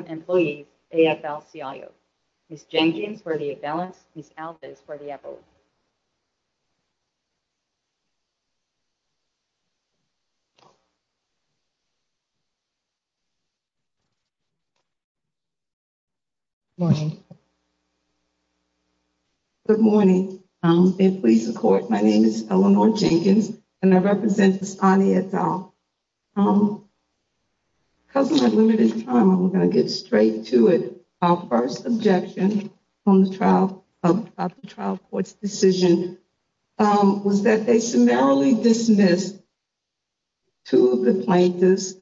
Employees, AFL-CIO. Ms. Jengjins for the Avalanche, Ms. Alvis for the Avalanche. Good morning. My name is Eleanor Jenkins, and I represent Bastani et al. Because of my limited time, I'm going to get straight to it. Our first objection on the trial of the trial court's decision was that they summarily dismissed two of the plaintiffs,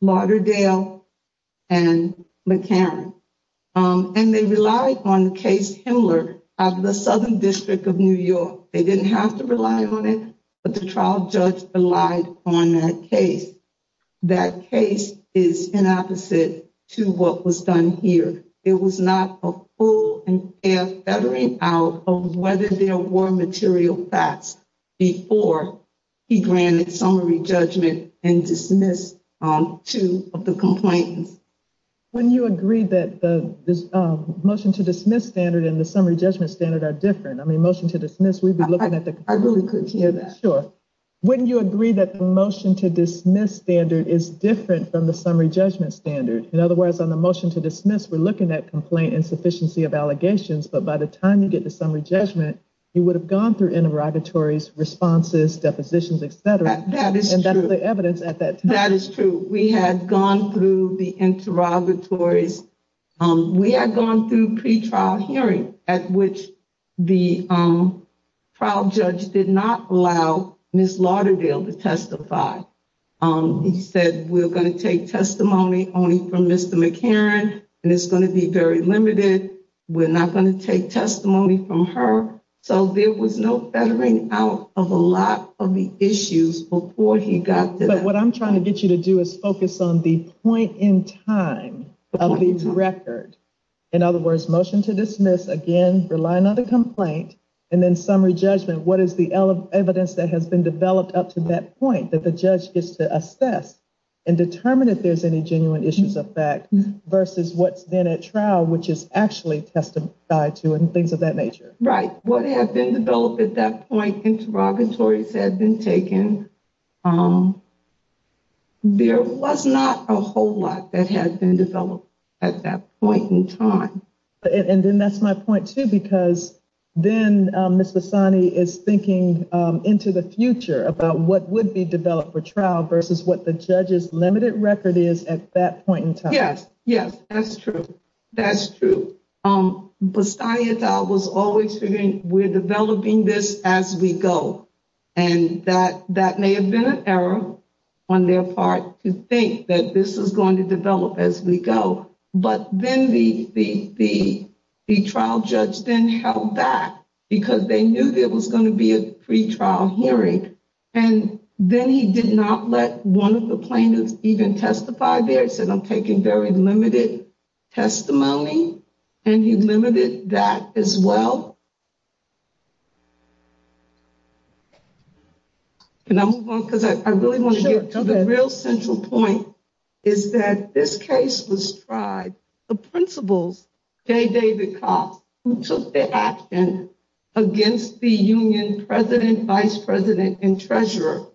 Lauderdale and McCarran. And they relied on the case Himmler of the Southern District of New York. They didn't have to rely on it, but the trial judge relied on that case. That case is an opposite to what was done here. It was not a full and fair fettering out of whether there were material facts before he granted summary judgment and dismissed two of the complaints. Wouldn't you agree that the motion to dismiss standard and the summary judgment standard are different? I mean, motion to dismiss, we'd be looking at the. I really couldn't hear that. Sure. Wouldn't you agree that the motion to dismiss standard is different from the summary judgment standard? In other words, on the motion to dismiss, we're looking at complaint insufficiency of allegations. But by the time you get the summary judgment, you would have gone through interrogatories, responses, depositions, et cetera. And that's the evidence at that. That is true. We had gone through the interrogatories. We had gone through pretrial hearing at which the trial judge did not allow Miss Lauderdale to testify. He said, we're going to take testimony only from Mr. McCarran and it's going to be very limited. We're not going to take testimony from her. So there was no bettering out of a lot of the issues before he got. But what I'm trying to get you to do is focus on the point in time of the record. In other words, motion to dismiss again, relying on the complaint and then summary judgment. What is the evidence that has been developed up to that point that the judge gets to assess and determine if there's any genuine issues of fact versus what's then at trial, which is actually testified to and things of that nature. Right. What have been developed at that point? Interrogatories had been taken. There was not a whole lot that had been developed at that point in time. And then that's my point, too, because then Mr. Sonny is thinking into the future about what would be developed for trial versus what the judge's limited record is at that point in time. Yes. Yes, that's true. That's true. But I was always figuring we're developing this as we go. And that that may have been an error on their part to think that this is going to develop as we go. But then the the the trial judge then held back because they knew there was going to be a free trial hearing. And then he did not let one of the plaintiffs even testify. They said, I'm taking very limited testimony and he limited that as well. And I move on because I really want to get to the real central point is that this case was tried. David Cox took the action against the union president, vice president and treasurer.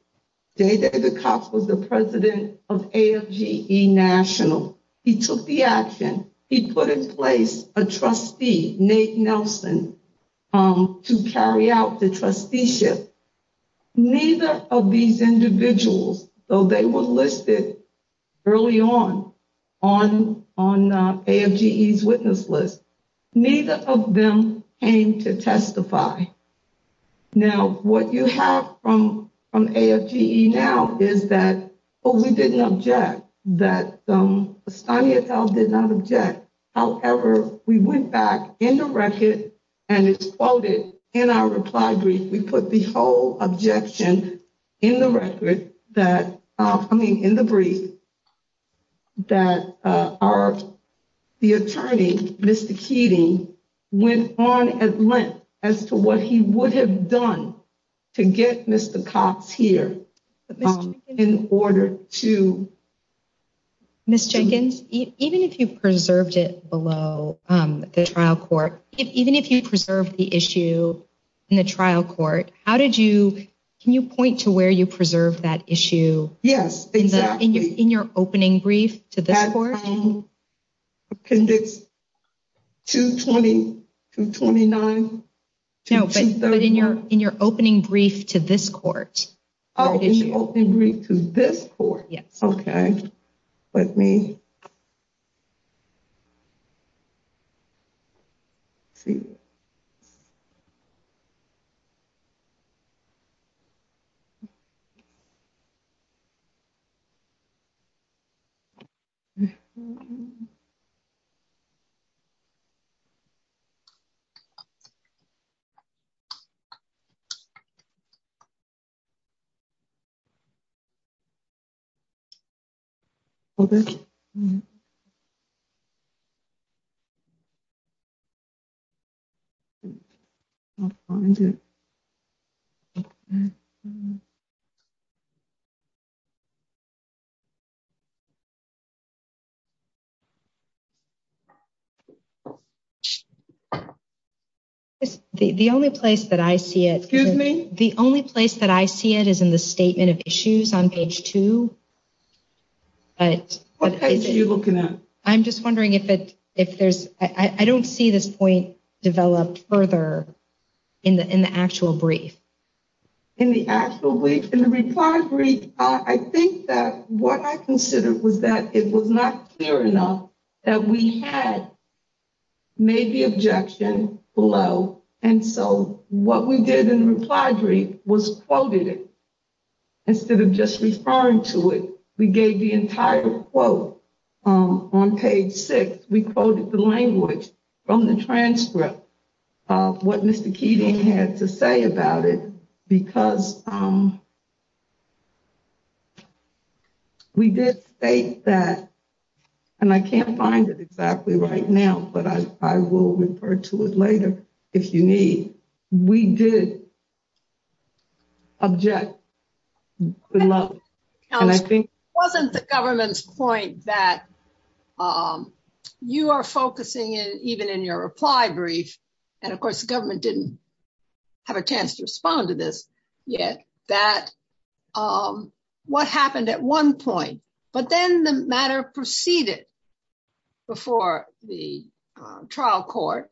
David Cox was the president of A.G.E. National. He took the action. He put in place a trustee, Nate Nelson, to carry out the trusteeship. Neither of these individuals, though they were listed early on on on A.G.E.'s witness list, neither of them came to testify. Now, what you have from A.G.E. now is that we didn't object that the study itself did not object. However, we went back in the record and it's quoted in our reply brief. We put the whole objection in the record that I mean, in the brief. That are the attorney, Mr. Keating, went on at length as to what he would have done to get Mr. Cox here in order to. Miss Jenkins, even if you preserved it below the trial court, even if you preserve the issue in the trial court, how did you can you point to where you preserve that issue? Yes, exactly. In your opening brief to the court. Can this to twenty to twenty nine? No, but in your in your opening brief to this court. This court. Yes. OK, let me. Well, the. The only place that I see it, excuse me, the only place that I see it is in the state. Statement of issues on page two. What are you looking at? I'm just wondering if it if there's I don't see this point developed further in the in the actual brief. In the reply brief, I think that what I considered was that it was not clear enough that we had made the objection below. And so what we did in reply brief was quoted instead of just referring to it. We gave the entire quote on page six. We quoted the language from the transcript of what Mr. Keating had to say about it because. We did say that and I can't find it exactly right now, but I will refer to it later if you need. We did. Object. And I think wasn't the government's point that you are focusing in even in your reply brief. And of course, the government didn't have a chance to respond to this yet that what happened at one point. But then the matter proceeded before the trial court.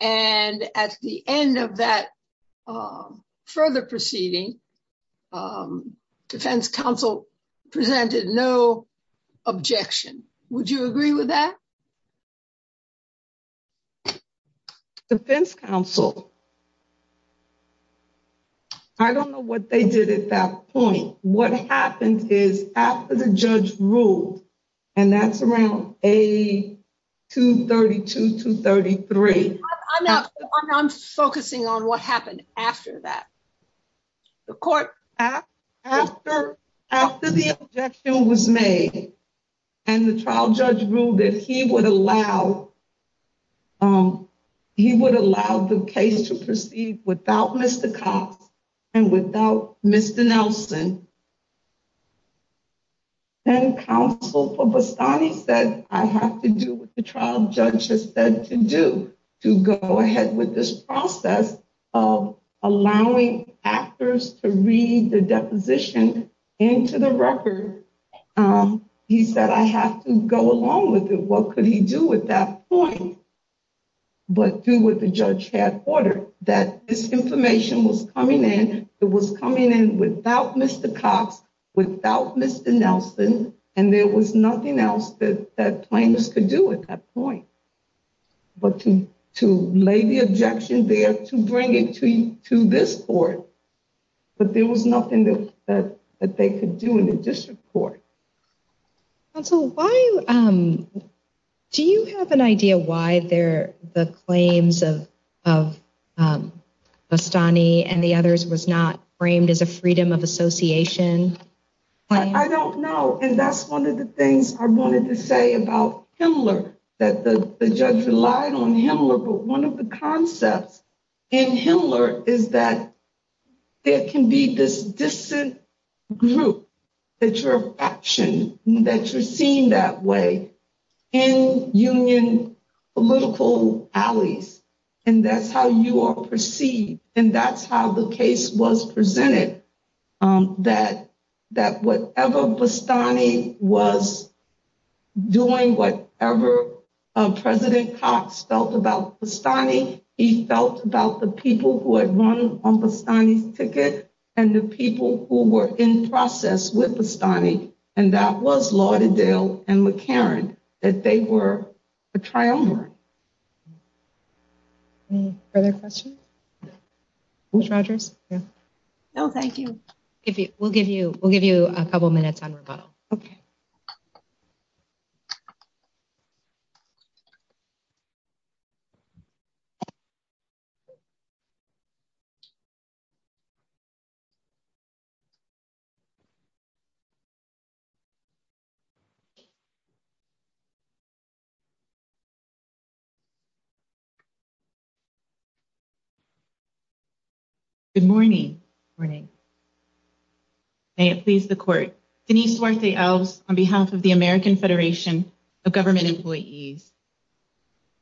And at the end of that further proceeding, defense counsel presented no objection. Would you agree with that? Defense counsel. I don't know what they did at that point. What happened is after the judge ruled and that's around a two thirty two to thirty three. I'm not I'm focusing on what happened after that. The court after after the objection was made and the trial judge ruled that he would allow. He would allow the case to proceed without Mr. Cox and without Mr. Nelson. And counsel for Boston, he said, I have to do what the trial judge has said to do to go ahead with this process of allowing actors to read the deposition into the record. He said, I have to go along with it. What could he do with that? But do what the judge had ordered that this information was coming in. It was coming in without Mr. Cox, without Mr. Nelson. And there was nothing else that the plaintiffs could do at that point. But to to lay the objection there, to bring it to you to this court. But there was nothing that they could do in the district court. So why do you have an idea why they're the claims of of Astani and the others was not framed as a freedom of association? I don't know. And that's one of the things I wanted to say about Himmler that the judge relied on him. But one of the concepts in Himmler is that it can be this distant group that your action that you're seeing that way in union political alleys. And that's how you are perceived. And that's how the case was presented. That that whatever Astani was doing, whatever President Cox felt about Astani, he felt about the people who had won on Astani's ticket and the people who were in process with Astani. And that was Lauderdale and McCarran, that they were a triumvirate. Any further questions? Ms. Rogers? No, thank you. We'll give you we'll give you a couple minutes on rebuttal. OK. Good morning. Good morning. May it please the court, Denise Duarte Alves on behalf of the American Federation of Government Employees.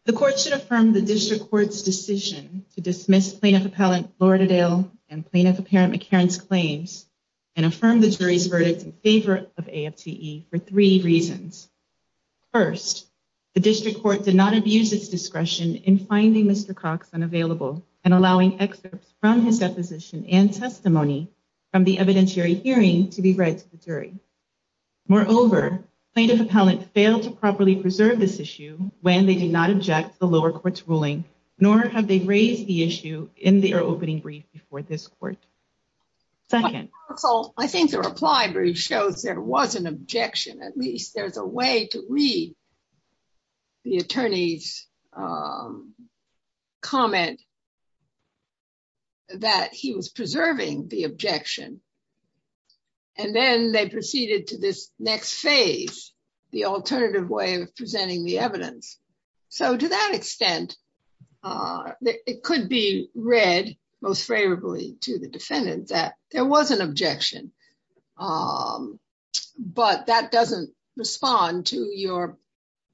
The court should affirm the district court's decision to dismiss plaintiff appellant Lauderdale and plaintiff apparent McCarran's claims and affirm the jury's verdict in favor of AFTE for three reasons. First, the district court did not abuse its discretion in finding Mr. Cox unavailable and allowing excerpts from his deposition and testimony from the evidentiary hearing to be read to the jury. Moreover, plaintiff appellant failed to properly preserve this issue when they did not object the lower courts ruling, nor have they raised the issue in their opening brief before this court. Second, I think the reply brief shows there was an objection, at least there's a way to read the attorney's comment that he was preserving the objection. And then they proceeded to this next phase, the alternative way of presenting the evidence. So to that extent, it could be read most favorably to the defendant that there was an objection. But that doesn't respond to your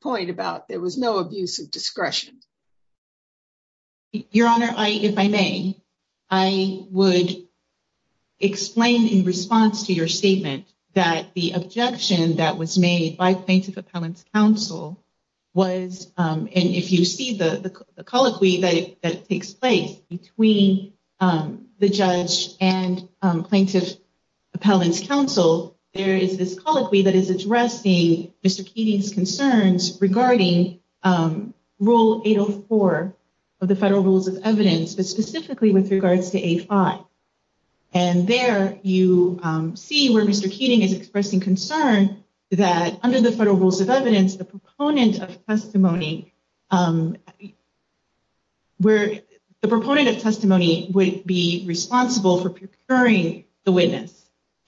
point about there was no abuse of discretion. Your Honor, if I may, I would explain in response to your statement that the objection that was made by plaintiff appellant's counsel was, and if you see the colloquy that takes place between the judge and plaintiff appellant's counsel. There is this colloquy that is addressing Mr. Keating's concerns regarding Rule 804 of the Federal Rules of Evidence, but specifically with regards to A5. And there you see where Mr. Keating is expressing concern that under the Federal Rules of Evidence, the proponent of testimony would be responsible for procuring the witness.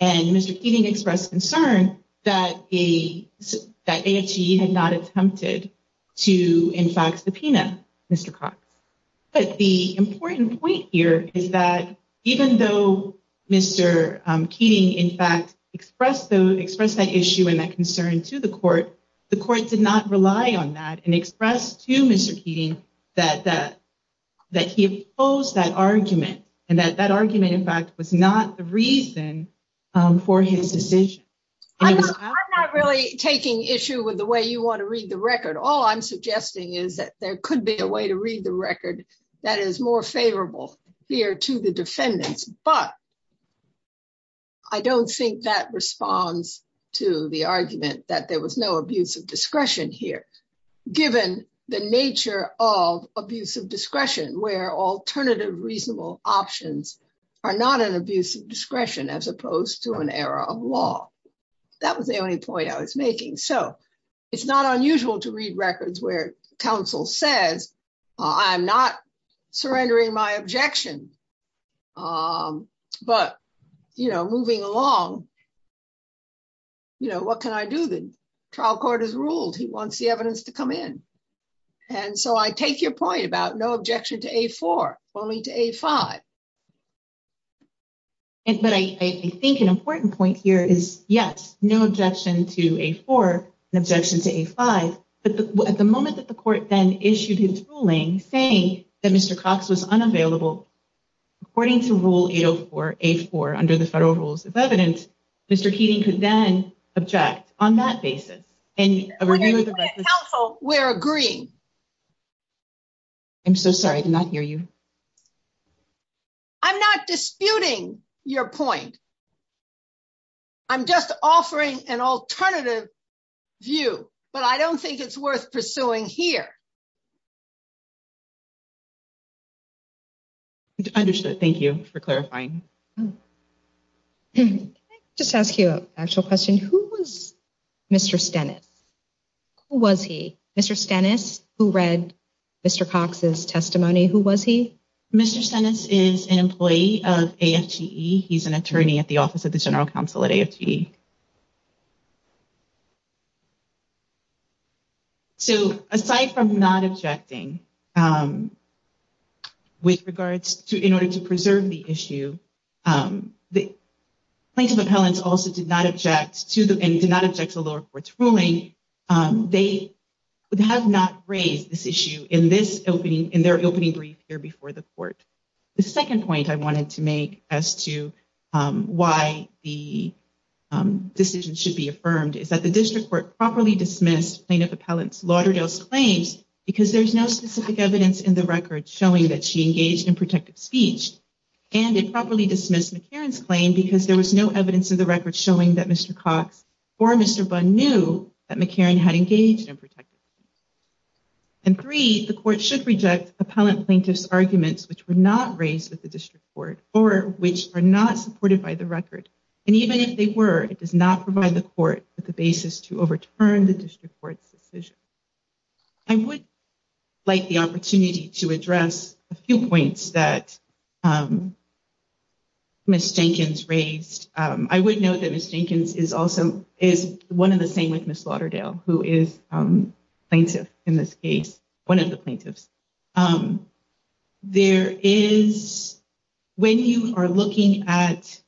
And Mr. Keating expressed concern that AHE had not attempted to, in fact, subpoena Mr. Cox. But the important point here is that even though Mr. Keating, in fact, expressed that issue and that concern to the court, the court did not rely on that and express to Mr. Keating that he opposed that argument and that that argument, in fact, was not the reason for his decision. I'm not really taking issue with the way you want to read the record. All I'm suggesting is that there could be a way to read the record that is more favorable here to the defendants, but I don't think that responds to the argument that there was no abuse of discretion here. Given the nature of abuse of discretion where alternative reasonable options are not an abuse of discretion as opposed to an error of law. That was the only point I was making. So it's not unusual to read records where counsel says, I'm not surrendering my objection. But, you know, moving along. You know, what can I do? The trial court has ruled he wants the evidence to come in. And so I take your point about no objection to A4, only to A5. But I think an important point here is, yes, no objection to A4 and objection to A5. But at the moment that the court then issued his ruling saying that Mr. Cox was unavailable, according to rule 804, A4, under the federal rules of evidence, Mr. Keating could then object on that basis. We're agreeing. I'm so sorry, I did not hear you. I'm not disputing your point. I'm just offering an alternative view, but I don't think it's worth pursuing here. Understood. Thank you for clarifying. Can I just ask you an actual question? Who was Mr. Stennis? Who was he? Mr. Stennis, who read Mr. Cox's testimony, who was he? Mr. Stennis is an employee of AFGE. He's an attorney at the Office of the General Counsel at AFGE. So aside from not objecting with regards to in order to preserve the issue, the plaintiff appellants also did not object to the lower court's ruling. They have not raised this issue in their opening brief here before the court. The second point I wanted to make as to why the decision should be affirmed is that the district court properly dismissed plaintiff appellants Lauderdale's claims because there's no specific evidence in the record showing that she engaged in protective speech. And it properly dismissed McCarran's claim because there was no evidence in the record showing that Mr. Cox or Mr. Bunn knew that McCarran had engaged in protective speech. And three, the court should reject appellant plaintiffs' arguments which were not raised with the district court or which are not supported by the record. And even if they were, it does not provide the court with the basis to overturn the district court's decision. I would like the opportunity to address a few points that Ms. Jenkins raised. I would note that Ms. Jenkins is also is one of the same with Ms. Lauderdale, who is plaintiff in this case, one of the plaintiffs. There is when you are looking at.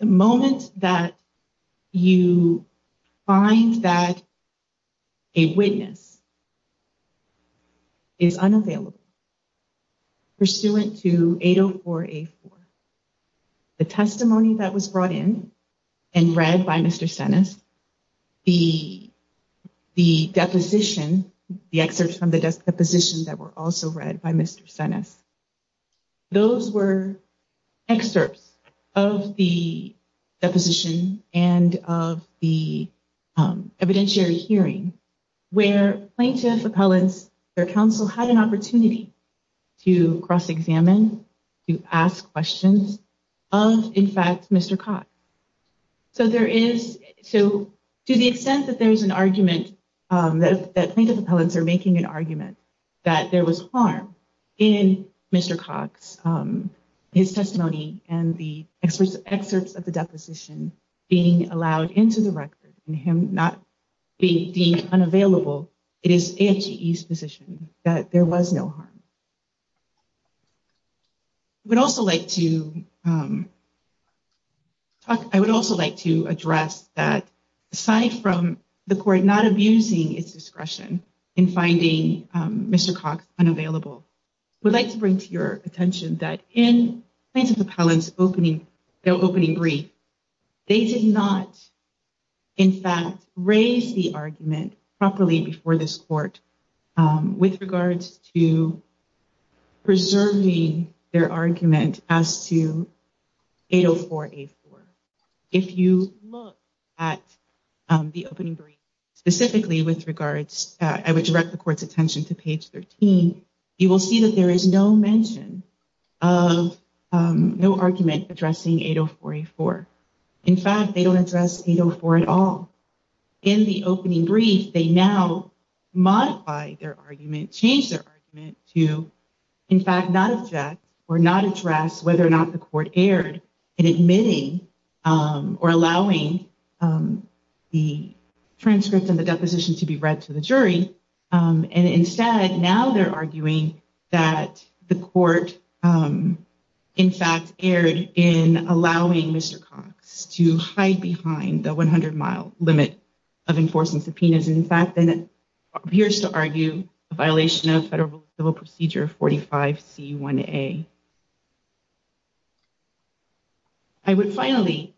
The moment that you find that. A witness. Is unavailable. Pursuant to 804. The testimony that was brought in and read by Mr. Stennis, the the deposition, the excerpts from the deposition that were also read by Mr. Stennis. Those were excerpts of the deposition and of the evidentiary hearing where plaintiff appellants, their counsel had an opportunity to cross examine, to ask questions. Of, in fact, Mr. Cox. So there is so to the extent that there is an argument that plaintiff appellants are making an argument that there was harm in Mr. Cox. His testimony and the experts excerpts of the deposition being allowed into the record and him not being deemed unavailable. It is AMGE's position that there was no harm. We'd also like to. I would also like to address that, aside from the court not abusing its discretion in finding Mr. Cox unavailable. I would like to bring to your attention that in plaintiff appellants opening their opening brief. They did not. In fact, raise the argument properly before this court with regards to preserving their argument as to 804A4. If you look at the opening brief specifically with regards, I would direct the court's attention to page 13. You will see that there is no mention of no argument addressing 804A4. In fact, they don't address 804 at all. In the opening brief, they now modify their argument, change their argument to, in fact, not object or not address whether or not the court erred in admitting or allowing the transcript of the deposition to be read to the jury. And instead, now they're arguing that the court, in fact, erred in allowing Mr. Cox to hide behind the 100-mile limit of enforcement subpoenas. In fact, then it appears to argue a violation of federal civil procedure 45C1A. I would finally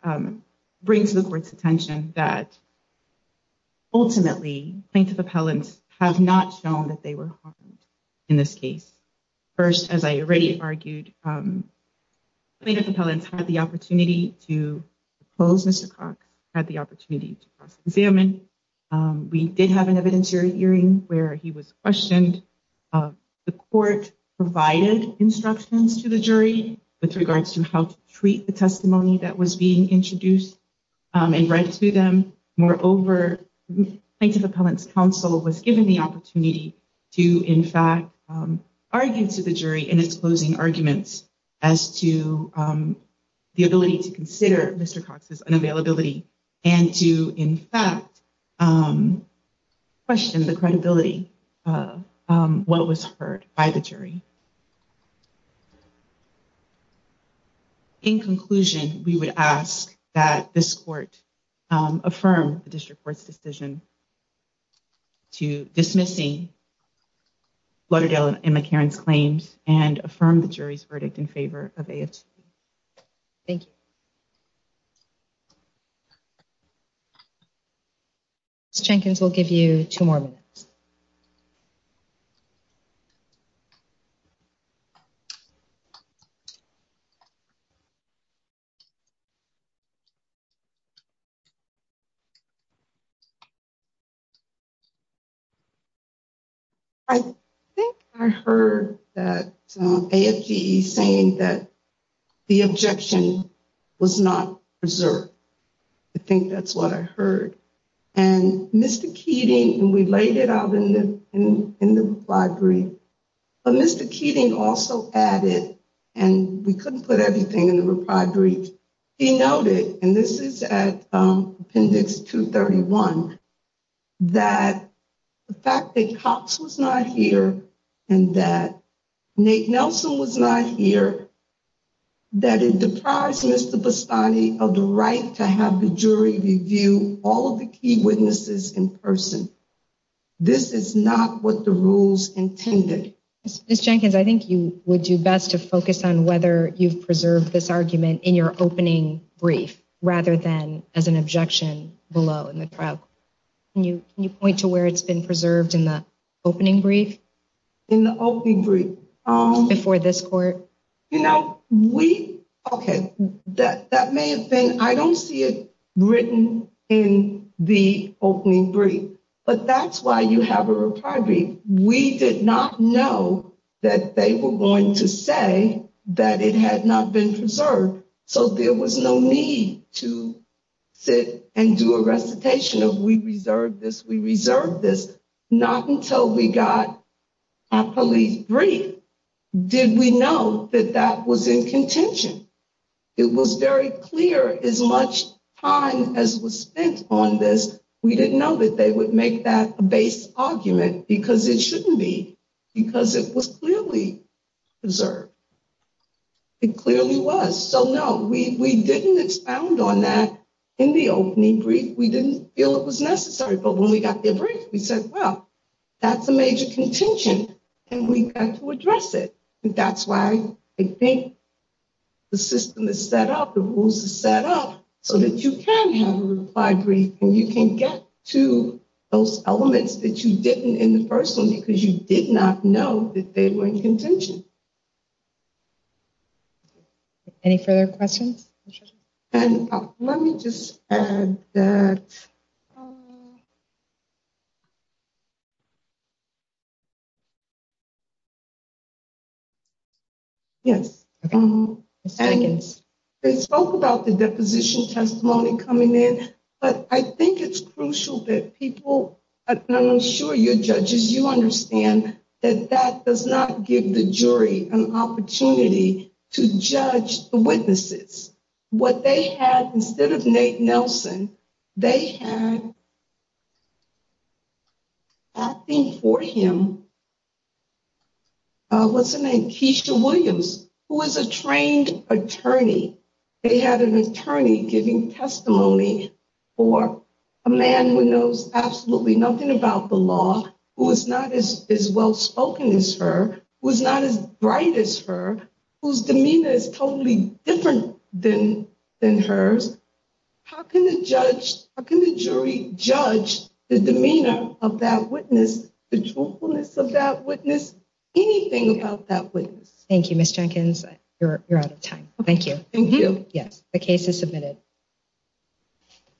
bring to the court's attention that ultimately plaintiff appellants have not shown that they were harmed in this case. First, as I already argued, plaintiff appellants had the opportunity to close Mr. Cox, had the opportunity to cross-examine. We did have an evidentiary hearing where he was questioned. The court provided instructions to the jury with regards to how to treat the testimony that was being introduced and read to them. Moreover, plaintiff appellants' counsel was given the opportunity to, in fact, argue to the jury in its closing arguments as to the ability to consider Mr. Cox's unavailability and to, in fact, question the credibility of what was heard by the jury. In conclusion, we would ask that this court affirm the district court's decision to dismissing Lauderdale and McCarran's claims and affirm the jury's verdict in favor of AFTP. Thank you. Ms. Jenkins will give you two more minutes. I think I heard that AFGE saying that the objection was not preserved. I think that's what I heard. And Mr. Keating, and we laid it out in the reply brief, but Mr. Keating also added, and we couldn't put everything in the reply brief, he noted, and this is at Appendix 231, that the fact that Cox was not here and that Nate Nelson was not here, that it deprives Mr. Bastani of the right to have the jury review all of the key witnesses in person. This is not what the rules intended. Ms. Jenkins, I think you would do best to focus on whether you've preserved this argument in your opening brief rather than as an objection below in the trial. Can you point to where it's been preserved in the opening brief? In the opening brief? Before this court. You know, we, okay, that may have been, I don't see it written in the opening brief, but that's why you have a reply brief. We did not know that they were going to say that it had not been preserved, so there was no need to sit and do a recitation of we reserved this, we reserved this, not until we got our police brief. Did we know that that was in contention? It was very clear as much time as was spent on this, we didn't know that they would make that a base argument because it shouldn't be, because it was clearly preserved. It clearly was, so no, we didn't expound on that in the opening brief. We didn't feel it was necessary, but when we got their brief, we said, well, that's a major contention and we've got to address it. That's why I think the system is set up, the rules are set up so that you can have a reply brief and you can get to those elements that you didn't in the first one because you did not know that they were in contention. Any further questions? Let me just add that. Yes, they spoke about the deposition testimony coming in, but I think it's crucial that people, I'm sure your judges, you understand that that does not give the jury an opportunity to judge the witnesses. What they had, instead of Nate Nelson, they had acting for him, what's her name, Keisha Williams, who was a trained attorney. They had an attorney giving testimony for a man who knows absolutely nothing about the law, who is not as well spoken as her, who is not as bright as her, whose demeanor is totally different than hers. How can the jury judge the demeanor of that witness, the truthfulness of that witness, anything about that witness? Thank you, Ms. Jenkins. You're out of time. Thank you. Yes, the case is submitted.